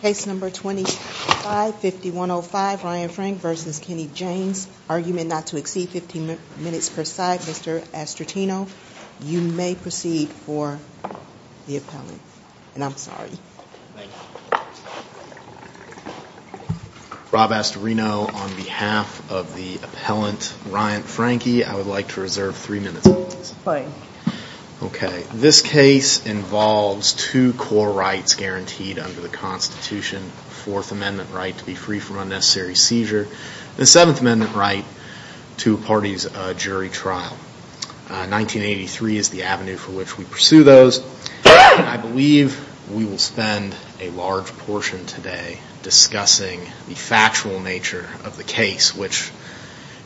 Case number 25-5105, Ryan Franke v. Kenny Janes. Argument not to exceed 15 minutes per side. Mr. Astortino, you may proceed for the appellant. And I'm sorry. Thank you. Rob Astorino on behalf of the appellant Ryan Franke. I would like to reserve three minutes, please. Fine. Okay, this case involves two core rights guaranteed under the Constitution. Fourth Amendment right to be free from unnecessary seizure. The Seventh Amendment right to a parties jury trial. 1983 is the avenue for which we pursue those. I believe we will spend a large portion today discussing the factual nature of the case, which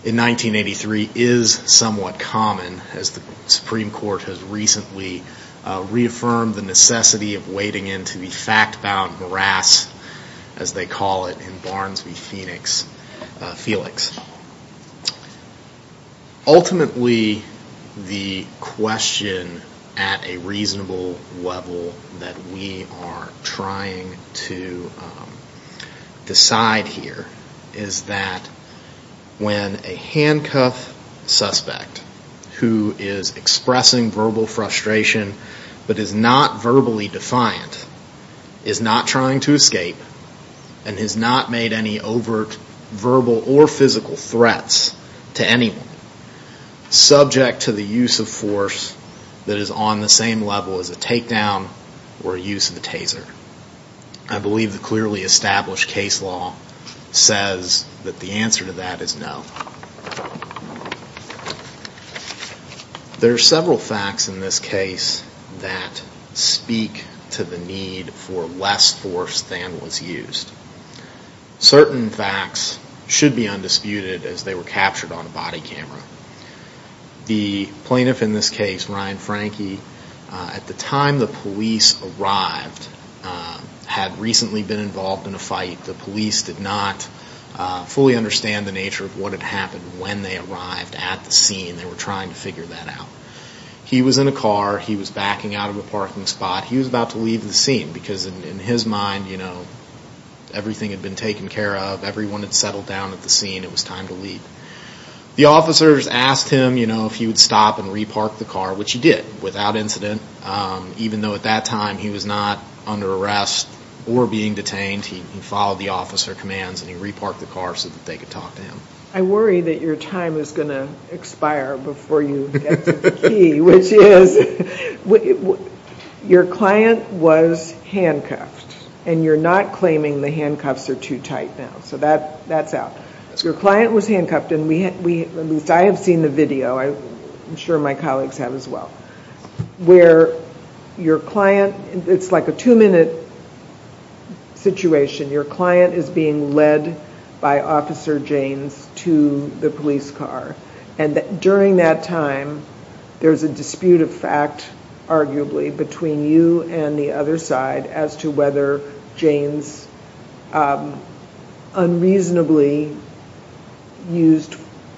in 1983 is somewhat common, as the Supreme Court has recently reaffirmed the necessity of wading into the fact-bound morass, as they call it in Barnes v. Phoenix, Felix. Ultimately, the question at a reasonable level that we are trying to decide here is that when a handcuffed suspect who is expressing verbal frustration, but is not verbally defiant, is not trying to escape, and has not made any overt verbal or physical threats to anyone, subject to the use of force that is on the same level as a takedown or use of a taser. I believe the clearly established case law says that the answer to that is no. There are several facts in this case that speak to the need for less force than was used. Certain facts should be undisputed as they were captured on a body camera. The plaintiff in this case, Ryan Franke, at the time the police arrived, had recently been involved in a fight. The police did not fully understand the nature of what had happened when they arrived at the scene. They were trying to figure that out. He was in a car. He was backing out of a parking spot. He was about to leave the scene because in his mind, you know, everything had been taken care of. Everyone had settled down at the scene. It was time to leave. The officers asked him, you know, if he would stop and re-park the car, which he did without incident. Even though at that time he was not under arrest or being detained, he followed the officer commands and he re-parked the car so that they could talk to him. I worry that your time is going to expire before you get to the key, which is your client was handcuffed. And you're not claiming the handcuffs are too tight now. So that's out. Your client was handcuffed and we, at least I have seen the video. I'm sure my colleagues have as well. Where your client, it's like a two-minute situation. Your client is being led by Officer Janes to the police car. And during that time, there's a dispute of fact, arguably, between you and the other side as to whether Janes unreasonably used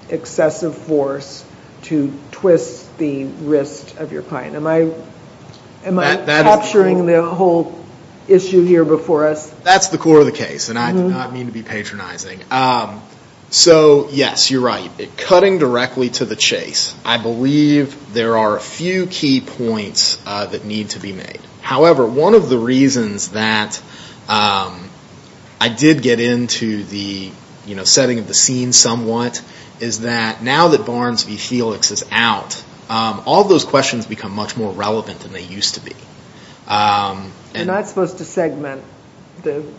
excessive force to twist the wrist of your client. Am I capturing the whole issue here before us? That's the core of the case and I do not mean to be patronizing. So, yes, you're right. Cutting directly to the chase, I believe there are a few key points that need to be made. However, one of the reasons that I did get into the setting of the scene somewhat is that now that Barnes v. Felix is out, all those questions become much more relevant than they used to be. You're not supposed to segment the situation.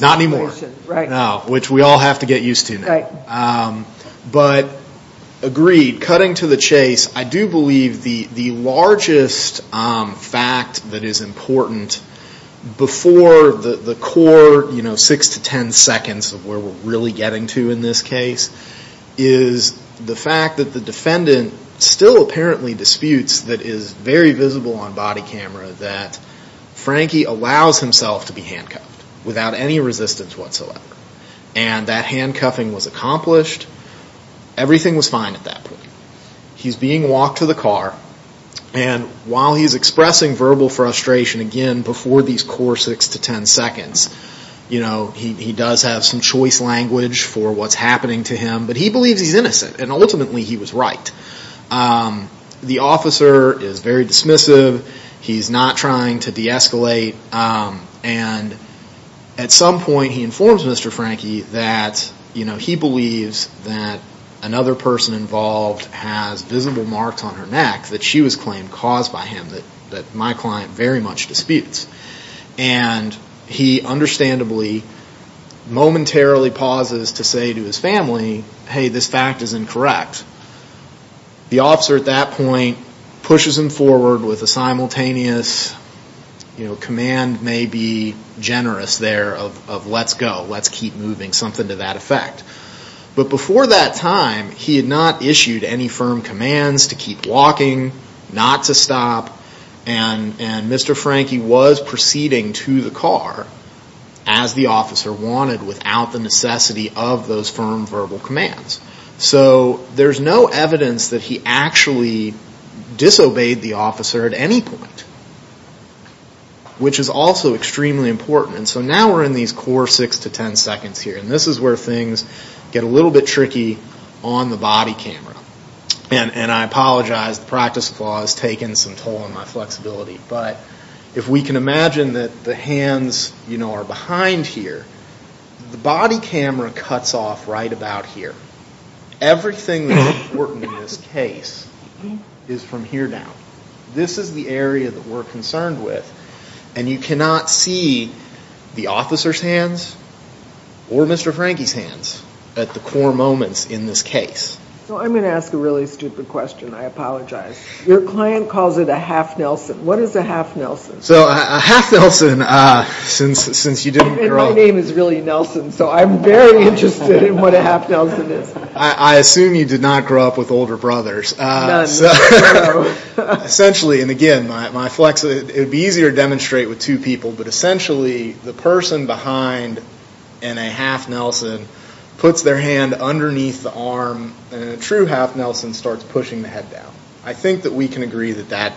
Not anymore. Which we all have to get used to now. But, agreed, cutting to the chase, I do believe the largest fact that is important before the core six to ten seconds of where we're really getting to in this case is the fact that the defendant still apparently disputes that is very visible on body camera that Frankie allows himself to be handcuffed without any resistance whatsoever. And that handcuffing was accomplished. Everything was fine at that point. He's being walked to the car and while he's expressing verbal frustration again before these core six to ten seconds, he does have some choice language for what's happening to him. But he believes he's innocent and ultimately he was right. The officer is very dismissive. He's not trying to de-escalate. And at some point he informs Mr. Frankie that he believes that another person involved has visible marks on her neck that she was claimed caused by him that my client very much disputes. And he understandably momentarily pauses to say to his family, hey, this fact is incorrect. The officer at that point pushes him forward with a simultaneous command maybe generous there of let's go. Let's keep moving, something to that effect. But before that time, he had not issued any firm commands to keep walking, not to stop. And Mr. Frankie was proceeding to the car as the officer wanted without the necessity of those firm verbal commands. So there's no evidence that he actually disobeyed the officer at any point, which is also extremely important. So now we're in these core six to ten seconds here. And this is where things get a little bit tricky on the body camera. And I apologize, the practice of law has taken some toll on my flexibility. But if we can imagine that the hands, you know, are behind here, the body camera cuts off right about here. Everything that's important in this case is from here now. This is the area that we're concerned with. And you cannot see the officer's hands or Mr. Frankie's hands at the core moments in this case. So I'm going to ask a really stupid question. I apologize. Your client calls it a half Nelson. What is a half Nelson? So a half Nelson, since you didn't grow up. And my name is really Nelson. So I'm very interested in what a half Nelson is. I assume you did not grow up with older brothers. Essentially, and again, my flex, it would be easier to demonstrate with two people. But essentially, the person behind in a half Nelson puts their hand underneath the arm. And a true half Nelson starts pushing the head down. I think that we can agree that that,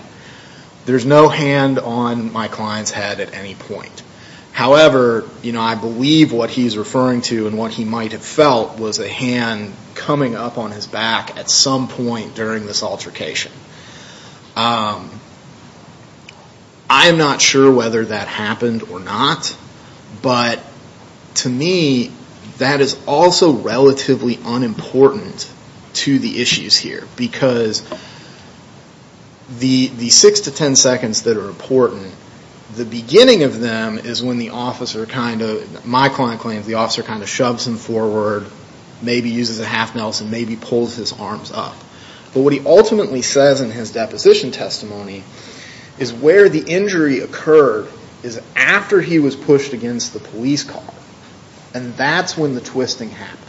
there's no hand on my client's head at any point. However, you know, I believe what he's referring to and what he might have felt was a hand coming up on his back at some point during this altercation. I am not sure whether that happened or not. But to me, that is also relatively unimportant to the issues here. Because the six to ten seconds that are important, the beginning of them is when the officer kind of, my client claims, the officer kind of shoves him forward, maybe uses a half Nelson, maybe pulls his arms up. But what he ultimately says in his deposition testimony is where the injury occurred is after he was pushed against the police car. And that's when the twisting happened.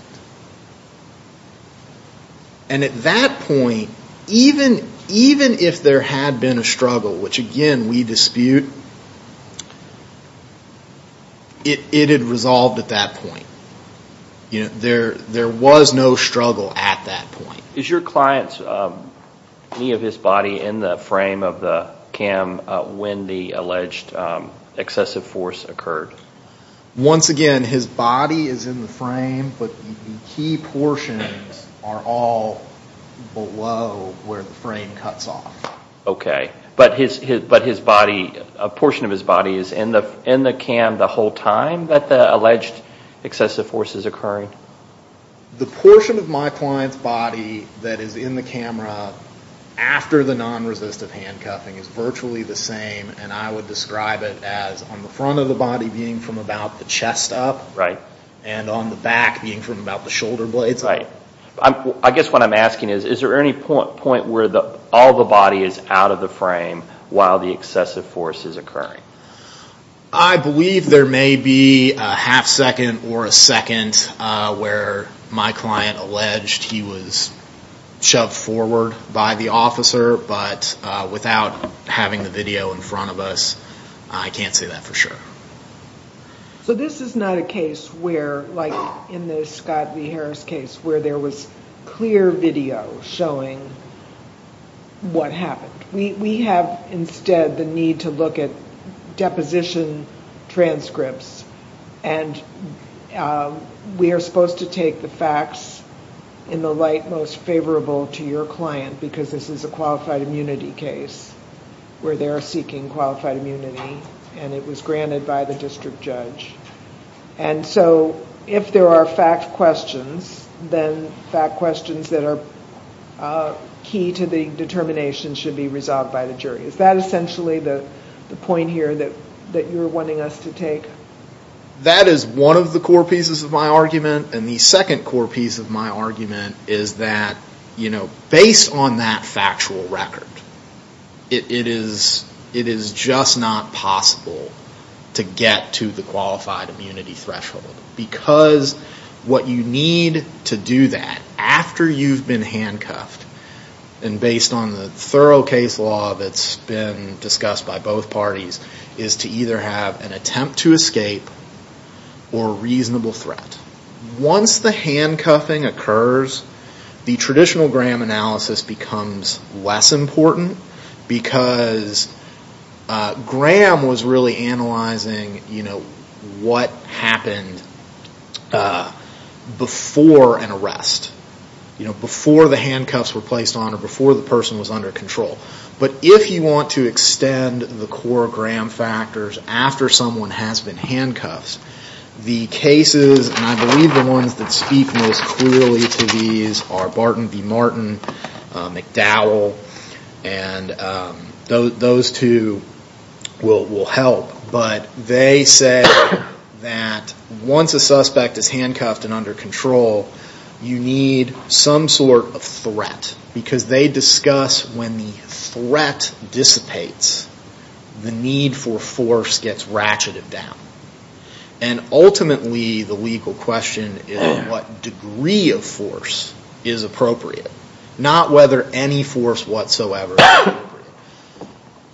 And at that point, even if there had been a struggle, which again, we dispute, it had resolved at that point. You know, there was no struggle at that point. Is your client's, any of his body in the frame of the cam when the alleged excessive force occurred? Once again, his body is in the frame, but the key portions are all below where the frame cuts off. Okay. But his body, a portion of his body is in the cam the whole time that the alleged excessive force is occurring? The portion of my client's body that is in the camera after the non-resistive handcuffing is virtually the same. And I would describe it as on the front of the body being from about the chest up. And on the back being from about the shoulder blades. Right. I guess what I'm asking is, is there any point where all the body is out of the frame while the excessive force is occurring? I believe there may be a half second or a second where my client alleged he was shoved forward by the officer, but without having the video in front of us, I can't say that for sure. So this is not a case where, like in the Scott Lee Harris case, where there was clear video showing what happened. We have instead the need to look at deposition transcripts, and we are supposed to take the facts in the light most favorable to your client, because this is a qualified immunity case, where they're seeking qualified immunity, and it was granted by the district judge. And so if there are fact questions, then fact questions that are key to the determination should be resolved by the jury. Is that essentially the point here that you're wanting us to take? That is one of the core pieces of my argument, and the second core piece of my argument is that, you know, based on that factual record, it is just not possible to get to the qualified immunity threshold, because what you need to do that, after you've been handcuffed, and based on the thorough case law that's been discussed by both parties, is to either have an attempt to escape, or a reasonable threat. Once the handcuffing occurs, the traditional Graham analysis becomes less important, because Graham was really analyzing, you know, what happened before an arrest. You know, before the handcuffs were placed on, or before the person was under control. But if you want to extend the core Graham factors after someone has been handcuffed, the cases, and I believe the ones that speak most clearly to these, are Barton v. Martin, McDowell, and those two will help. But they say that once a suspect is handcuffed and under control, you need some sort of threat. Because they discuss when the threat dissipates, the need for force gets ratcheted down. And ultimately, the legal question is what degree of force is appropriate, not whether any force whatsoever is appropriate.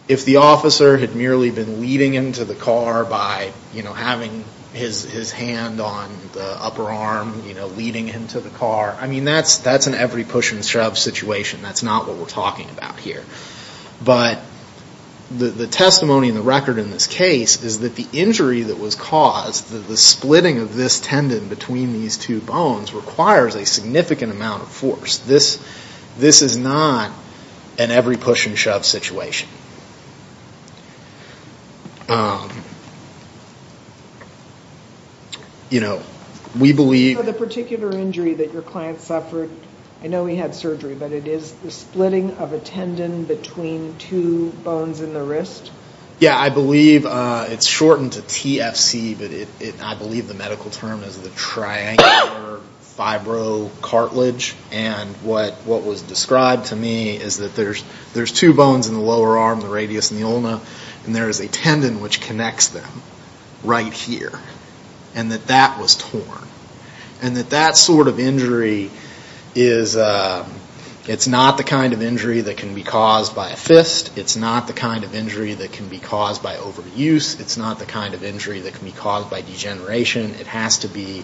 If the officer had merely been leading him to the car by, you know, having his hand on the upper arm, you know, leading him to the car, I mean, that's an every push and shove situation. That's not what we're talking about here. But the testimony in the record in this case is that the injury that was caused, the splitting of this tendon between these two bones, requires a significant amount of force. This is not an every push and shove situation. You know, we believe... I know he had surgery, but it is the splitting of a tendon between two bones in the wrist? Yeah, I believe it's shortened to TFC, but I believe the medical term is the triangular fibrocartilage. And what was described to me is that there's two bones in the lower arm, the radius and the ulna, and there is a tendon which connects them right here, and that that was torn. And that that sort of injury is...it's not the kind of injury that can be caused by a fist, it's not the kind of injury that can be caused by overuse, it's not the kind of injury that can be caused by degeneration. It has to be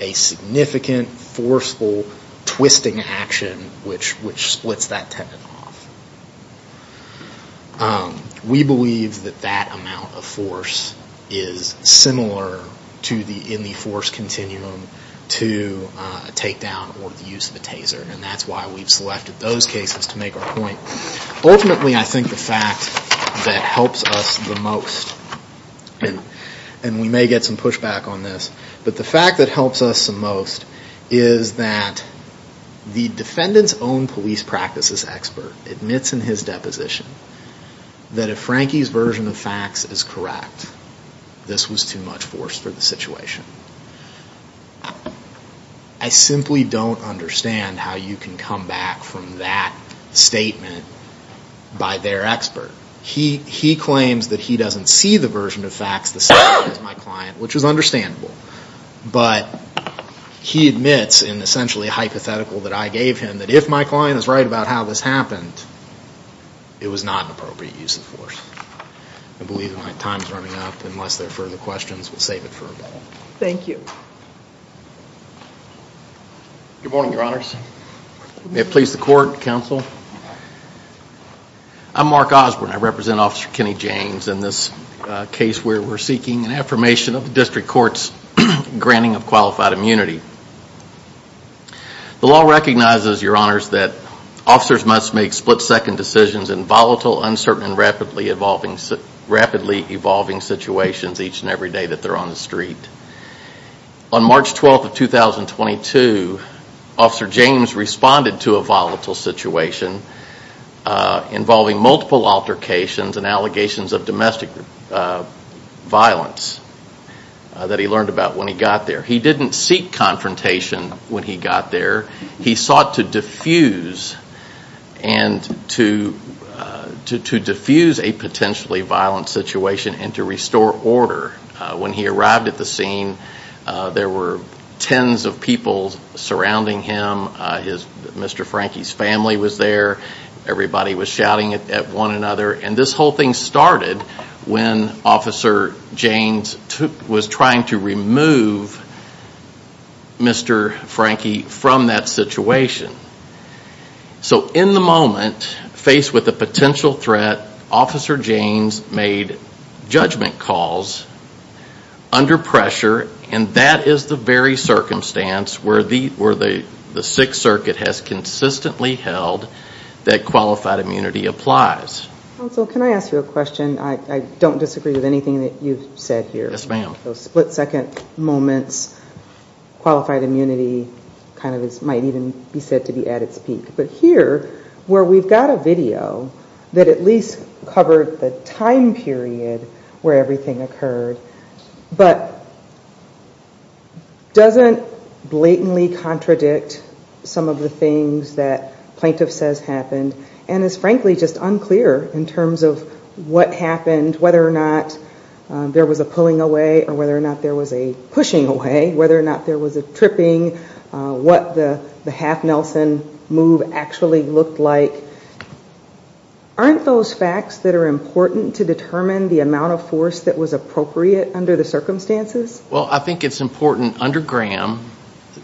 a significant, forceful, twisting action which splits that tendon off. We believe that that amount of force is similar to the...in the force continuum. To a takedown or the use of a taser, and that's why we've selected those cases to make our point. Ultimately, I think the fact that helps us the most, and we may get some pushback on this, but the fact that helps us the most is that the defendant's own police practices expert admits in his deposition that if Frankie's version of facts is correct, this was too much force for the situation. I simply don't understand how you can come back from that statement by their expert. He claims that he doesn't see the version of facts the same as my client, which is understandable, but he admits in essentially a hypothetical that I gave him, that if my client is right about how this happened, it was not an appropriate use of force. I believe my time's running out, unless there are further questions, we'll save it for a moment. Good morning, Your Honors. May it please the Court, Counsel? I'm Mark Osborne. I represent Officer Kenny James in this case where we're seeking an affirmation of the District Court's granting of qualified immunity. The law recognizes, Your Honors, that officers must make split-second decisions in volatile, uncertain, and rapidly evolving situations each and every day that they're on the street. On March 12th of 2022, Officer James responded to a volatile situation involving multiple altercations and allegations of domestic violence that he learned about when he got there. He didn't seek confrontation when he got there. He sought to diffuse a potentially violent situation and to restore order. When he arrived at the scene, there were tens of people surrounding him. Mr. Frankie's family was there. Everybody was shouting at one another. And this whole thing started when Officer James was trying to remove Mr. Frankie from that situation. So in the moment, faced with a potential threat, Officer James made judgment calls under pressure, and that is the very circumstance where the Sixth Circuit has consistently held that qualified immunity applies. So can I ask you a question? I don't disagree with anything that you've said here. Yes, ma'am. Those split-second moments, qualified immunity, kind of might even be said to be at its peak. But here, where we've got a video that at least covered the time period where everything occurred, but doesn't blatantly contradict some of the things that Plaintiff says happened, and is frankly just unclear in terms of what happened, whether or not there was a pulling away or whether or not there was a pushing away, whether or not there was a tripping, what the half-Nelson move actually looked like. Aren't those facts that are important to determine the amount of force that was appropriate under the circumstances? Well, I think it's important under Graham,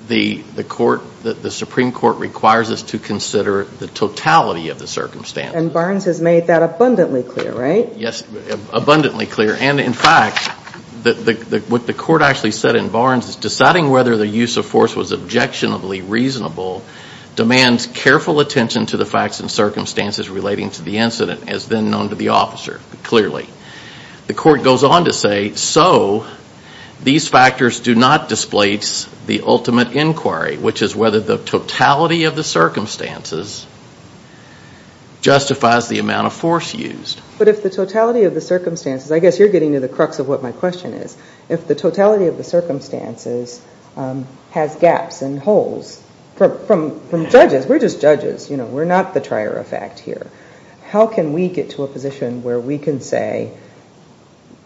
the Supreme Court requires us to consider the totality of the circumstances. And Barnes has made that abundantly clear, right? Yes, abundantly clear. And in fact, what the Court actually said in Barnes is deciding whether the use of force was objectionably reasonable demands careful attention to the facts and circumstances relating to the incident, as then known to the officer, clearly. The Court goes on to say, so these factors do not displace the ultimate inquiry, which is whether the totality of the circumstances justifies the amount of force used. But if the totality of the circumstances, I guess you're getting to the crux of what my question is, if the totality of the circumstances has gaps and holes, from judges, we're just judges, you know, we're not the trier of fact here. How can we get to a position where we can say,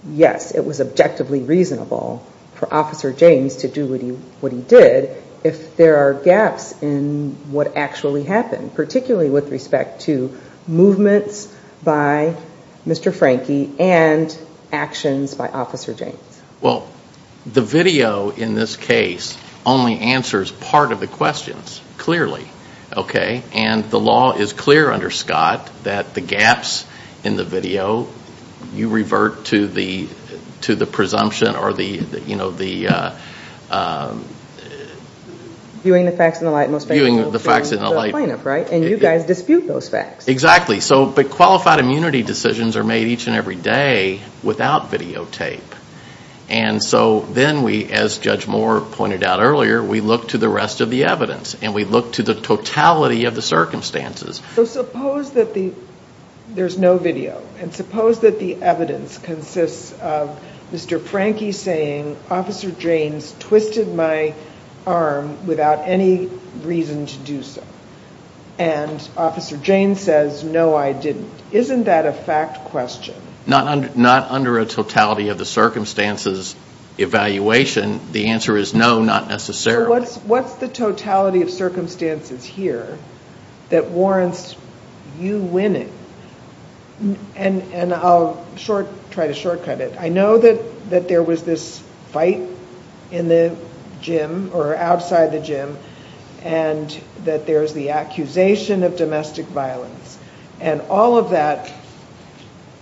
yes, it was objectively reasonable for Officer James to do what he did, if there are gaps in what actually happened, particularly with respect to movements by Mr. Frankie and actions by Officer James? Well, the video in this case only answers part of the questions, clearly, okay? And the law is clear under Scott that the gaps in the video, you revert to the presumption or the, you know, the... Viewing the facts in the light most favorable for the plaintiff, right? And you guys dispute those facts. Exactly. So, but qualified immunity decisions are made each and every day without videotape. And so then we, as Judge Moore pointed out earlier, we look to the rest of the evidence. And we look to the totality of the circumstances. So suppose that the, there's no video. And suppose that the evidence consists of Mr. Frankie saying, Officer James twisted my arm without any reason to do so. And Officer James says, no, I didn't. Isn't that a fact question? Not under a totality of the circumstances evaluation. The answer is no, not necessarily. So what's the totality of circumstances here that warrants you winning? And I'll short, try to shortcut it. I know that there was this fight in the gym or outside the gym and that there's the accusation of domestic violence. And all of that,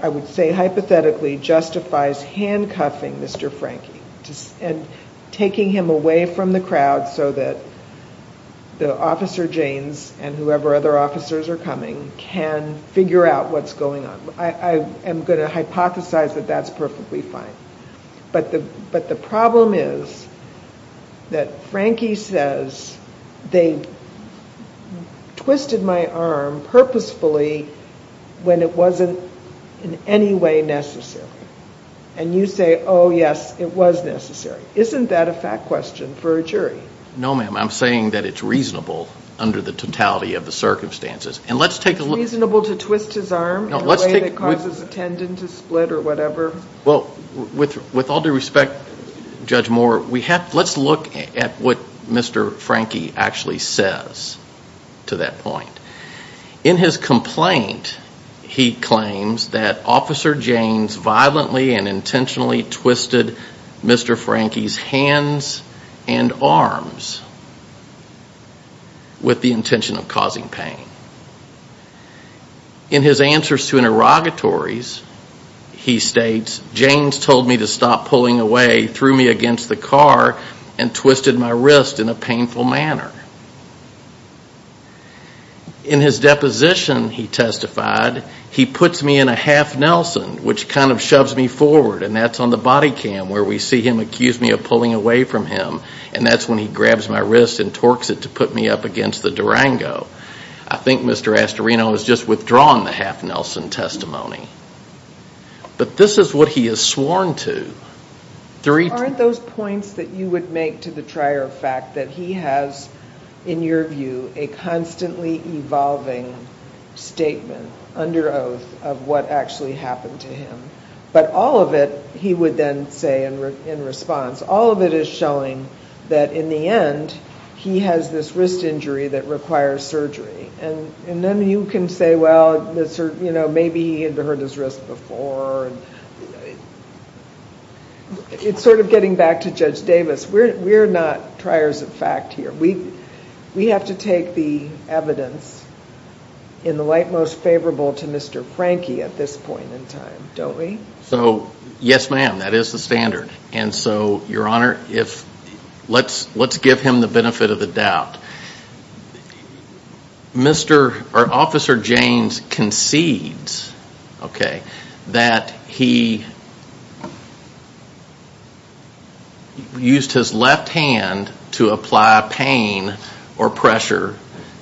I would say hypothetically, justifies handcuffing Mr. Frankie and taking him away from the crowd. So that the Officer James and whoever other officers are coming can figure out what's going on. I am going to hypothesize that that's perfectly fine. But the problem is that Frankie says, they twisted my arm purposefully when it wasn't in any way necessary. And you say, oh, yes, it was necessary. Isn't that a fact question for a jury? No, ma'am, I'm saying that it's reasonable under the totality of the circumstances. It's reasonable to twist his arm in a way that causes a tendon to split or whatever? Well, with all due respect, Judge Moore, let's look at what Mr. Frankie actually says to that point. In his complaint, he claims that Officer James violently and intentionally twisted Mr. Frankie's arm. He twisted Mr. Frankie's hands and arms with the intention of causing pain. In his answers to interrogatories, he states, James told me to stop pulling away, threw me against the car and twisted my wrist in a painful manner. In his deposition, he testified, he puts me in a half Nelson, which kind of shoves me forward. And that's on the body cam where we see him accuse me of pulling away from him. And that's when he grabs my wrist and torques it to put me up against the Durango. I think Mr. Astorino has just withdrawn the half Nelson testimony. But this is what he has sworn to. Aren't those points that you would make to the trier a fact that he has, in your view, a constantly evolving statement under oath of what actually happened to him? But all of it, he would then say in response, all of it is showing that in the end, he has this wrist injury that requires surgery. And then you can say, well, maybe he had hurt his wrist before. It's sort of getting back to Judge Davis. We're not triers of fact here. We have to take the evidence in the light most favorable to Mr. Frankie at this point in time. Don't we? Yes, ma'am, that is the standard. Let's give him the benefit of the doubt. Officer James concedes that he used his left hand to apply pain or pressure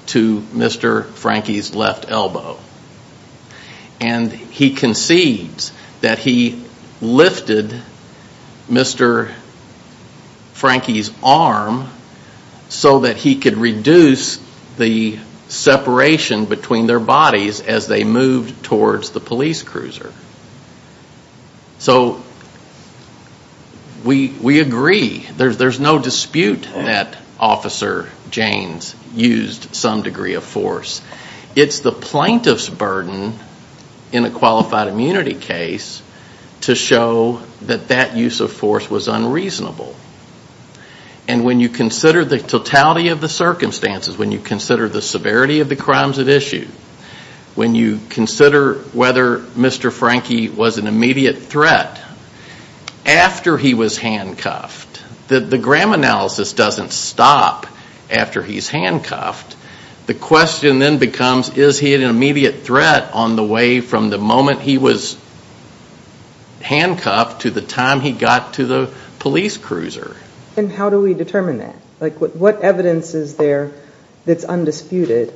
to Mr. Frankie's left elbow. And he concedes that he lifted Mr. Frankie's arm so that he could reduce the separation between their bodies as they moved towards the police cruiser. So we agree. There's no dispute that Officer James used some degree of force. It's the plaintiff's burden in a qualified immunity case to show that that use of force was unreasonable. And when you consider the totality of the circumstances, when you consider the severity of the crimes at issue, when you consider whether Mr. Frankie was an immediate threat after he was handcuffed, the gram analysis doesn't stop after he's handcuffed. The question then becomes, is he an immediate threat on the way from the moment he was handcuffed to the time he got to the police cruiser? And how do we determine that? What evidence is there that's undisputed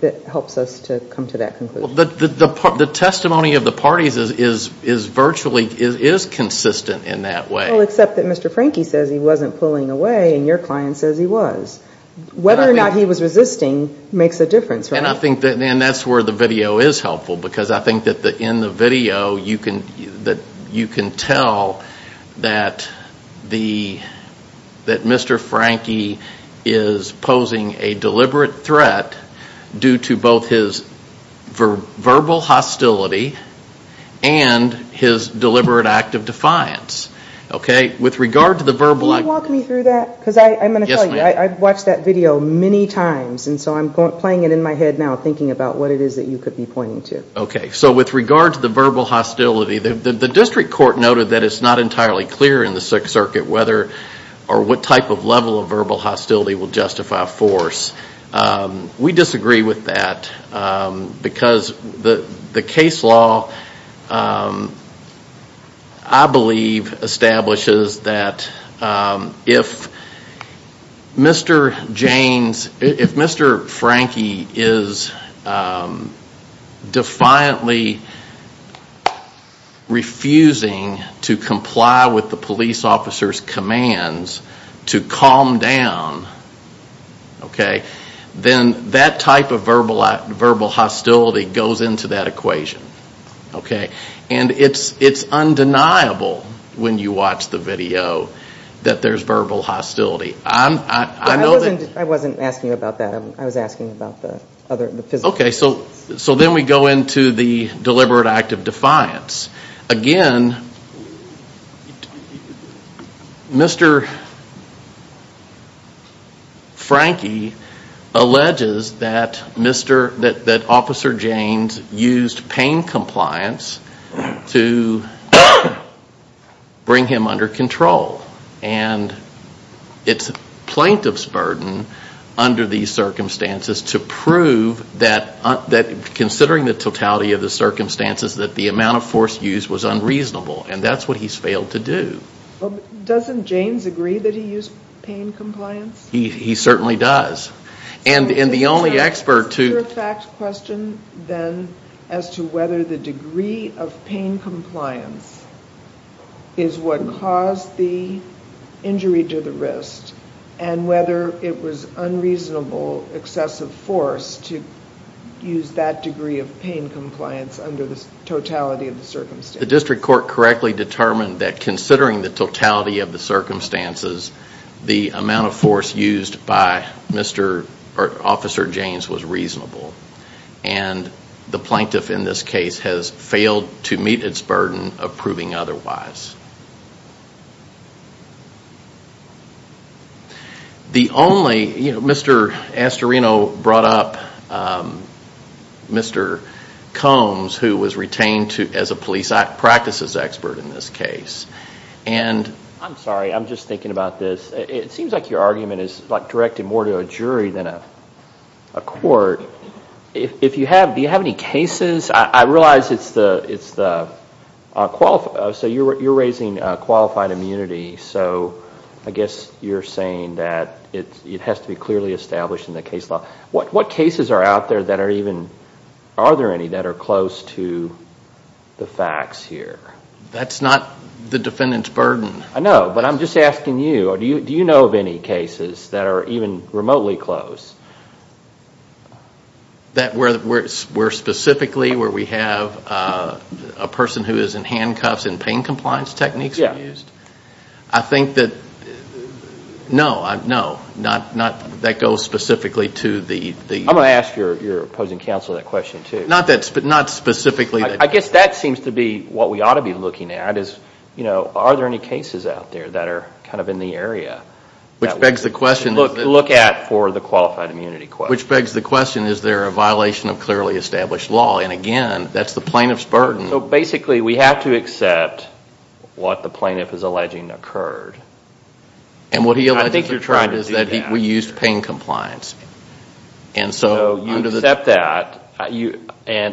that helps us to come to that conclusion? The testimony of the parties is virtually consistent in that way. Well, except that Mr. Frankie says he wasn't pulling away and your client says he was. Whether or not he was resisting makes a difference, right? And I think that's where the video is helpful because I think that in the video you can tell that Mr. Frankie is posing a deliberate threat due to both his verbal hostility and his deliberate act of defiance. Okay? Can you walk me through that? Because I'm going to tell you, I've watched that video many times and so I'm playing it in my head now, thinking about what it is that you could be pointing to. Okay. So with regard to the verbal hostility, the district court noted that it's not entirely clear in the Sixth Circuit whether or what type of level of verbal hostility will justify force. We disagree with that because the case law, I believe, establishes that there is a certain level of verbal hostility. And that level of hostility is that if Mr. Frankie is defiantly refusing to comply with the police officer's commands to calm down, then that type of verbal hostility goes into that equation. Okay? And it's undeniable when you watch the video that there's verbal hostility. I know that... I wasn't asking about that. I was asking about the other... Okay. So then we go into the deliberate act of defiance. Again, Mr. Frankie alleges that Officer Jaynes used painful words to describe Mr. Frankie. And he's using pain compliance to bring him under control. And it's a plaintiff's burden under these circumstances to prove that, considering the totality of the circumstances, that the amount of force used was unreasonable. And that's what he's failed to do. Doesn't Jaynes agree that he used pain compliance? He certainly does. And the only expert to... Is there a fact question then as to whether the degree of pain compliance is what caused the injury to the wrist? And whether it was unreasonable excessive force to use that degree of pain compliance under the totality of the circumstances? The district court correctly determined that, considering the totality of the circumstances, the amount of force used by Officer Jaynes was reasonable. And the plaintiff in this case has failed to meet its burden of proving otherwise. Mr. Astorino brought up Mr. Combs, who was retained as a police practices expert in this case. I'm sorry, I'm just thinking about this. It seems like your argument is directed more to a jury than a court. Do you have any cases? I realize it's the... So you're raising qualified immunity. So I guess you're saying that it has to be clearly established in the case law. What cases are out there that are even... Are there any that are close to the facts here? That's not the defendant's burden. I know, but I'm just asking you. Do you know of any cases that are even remotely close? That were specifically where we have a person who is in handcuffs and pain compliance techniques used? Yeah. I think that... No. That goes specifically to the... I'm going to ask your opposing counsel that question too. Not specifically... I guess that seems to be what we ought to be looking at. Are there any cases out there that are kind of in the area? Which begs the question... Look at for the qualified immunity question. Which begs the question, is there a violation of clearly established law? And again, that's the plaintiff's burden. So basically we have to accept what the plaintiff is alleging occurred. I think you're trying to do that. So you accept that.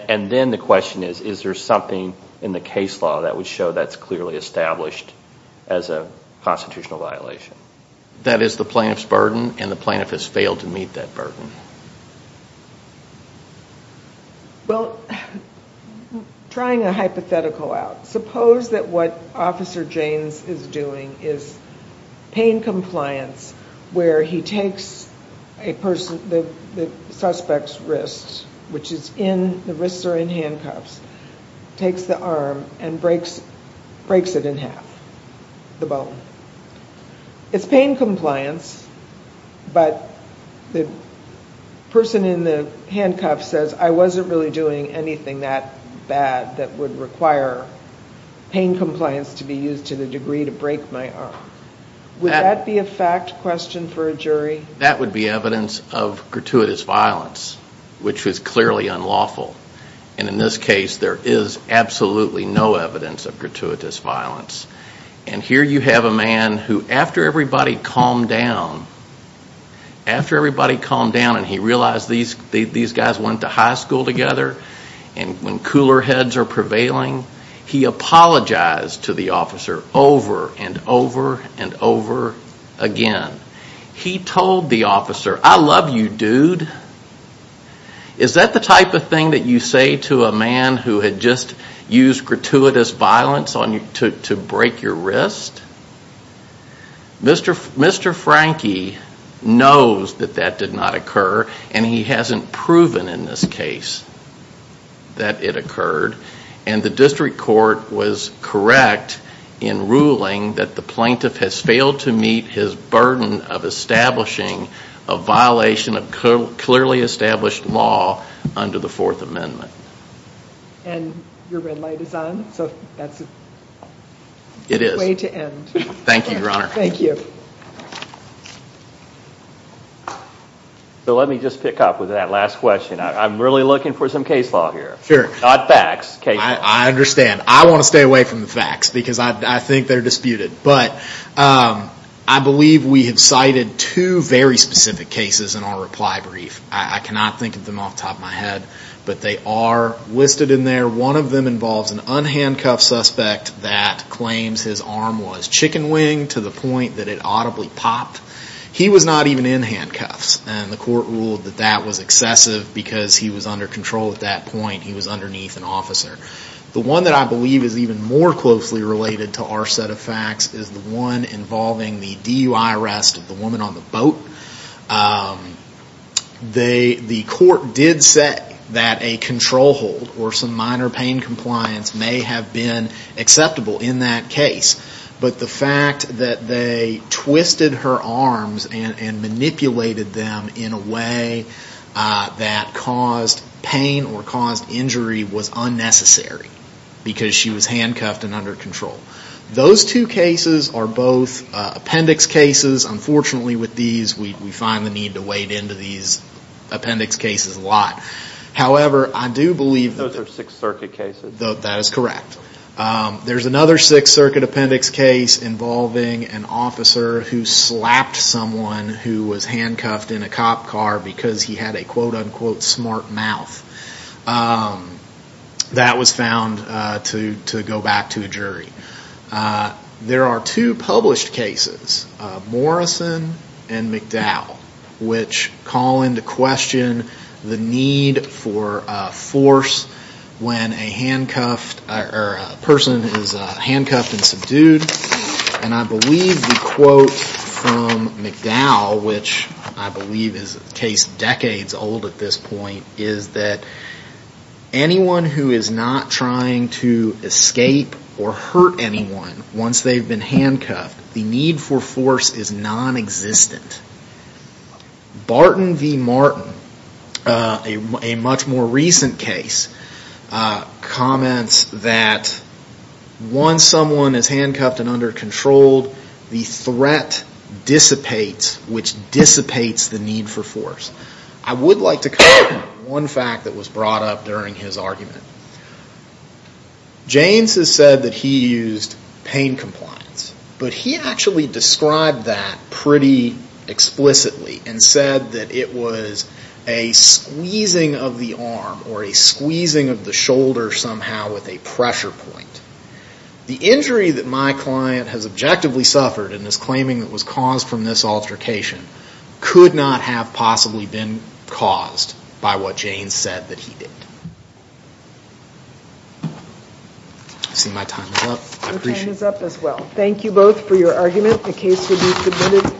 And then the question is, is there something in the case law that would show that's clearly established as a constitutional violation? That is the plaintiff's burden, and the plaintiff has failed to meet that burden. Well, trying a hypothetical out. Suppose that what Officer Jaynes is doing is pain compliance where he takes the suspect's wrist, which is in... The wrists are in handcuffs, takes the arm and breaks it in half, the bone. It's pain compliance, but the person in the handcuffs says, I wasn't really doing anything that bad that would require pain compliance to be used to the degree to break my arm. Would that be a fact question for a jury? That would be evidence of gratuitous violence, which is clearly unlawful. And in this case, there is absolutely no evidence of gratuitous violence. And here you have a man who, after everybody calmed down, and he realized these guys went to high school together, and when cooler heads are prevailing, he apologized to the officer over and over and over again. He told the officer, I love you, dude. Is that the type of thing that you say to a man who had just used gratuitous violence to break your wrist? Mr. Frankie knows that that did not occur, and he hasn't proven in this case that it occurred. And the district court was correct in ruling that the plaintiff has failed to meet his burden of establishing a violation of clearly established law under the Fourth Amendment. And your red light is on, so that's a way to end. It is. Thank you, Your Honor. So let me just pick up with that last question. I'm really looking for some case law here, not facts. I understand. I want to stay away from the facts, because I think they're disputed. But I believe we have cited two very specific cases in our reply brief. I cannot think of them off the top of my head, but they are listed in there. One of them involves an unhandcuffed suspect that claims his arm was chicken wing to the point that it audibly popped. He was not even in handcuffs, and the court ruled that that was excessive because he was under control at that point. He was underneath an officer. The one that I believe is even more closely related to our set of facts is the one involving the DUI arrest of the woman on the boat. The court did say that a control hold or some minor pain compliance may have been acceptable in that case. But the fact that they twisted her arms and manipulated them in a way that caused pain or caused injury was unnecessary because she was handcuffed and under control. Those two cases are both appendix cases. Unfortunately, with these, we find the need to wade into these appendix cases a lot. However, I do believe... Those are Sixth Circuit cases. That is correct. There's another Sixth Circuit appendix case involving an officer who slapped someone who was handcuffed in a cop car because he had a quote-unquote smart mouth. That was found to go back to a jury. There are two published cases, Morrison and McDowell, which call into question the need for force when a person is handcuffed and subdued. And I believe the quote from McDowell, which I believe is a case decades old at this point, is that anyone who is not trying to escape or hurt anyone once they've been handcuffed, the need for force is non-existent. Barton v. Martin, a much more recent case, comments that once someone is handcuffed and under control, the threat dissipates, which dissipates the need for force. I would like to comment on one fact that was brought up during his argument. Jaynes has said that he used pain compliance, but he actually described that pretty explicitly and said that it was a squeezing of the arm or a squeezing of the shoulder somehow with a pressure point. The injury that my client has objectively suffered in this claiming that was caused from this altercation could not have possibly been caused by what Jaynes said that he did. I see my time is up. I appreciate it. Your time is up as well. Thank you both for your argument. The case will be submitted.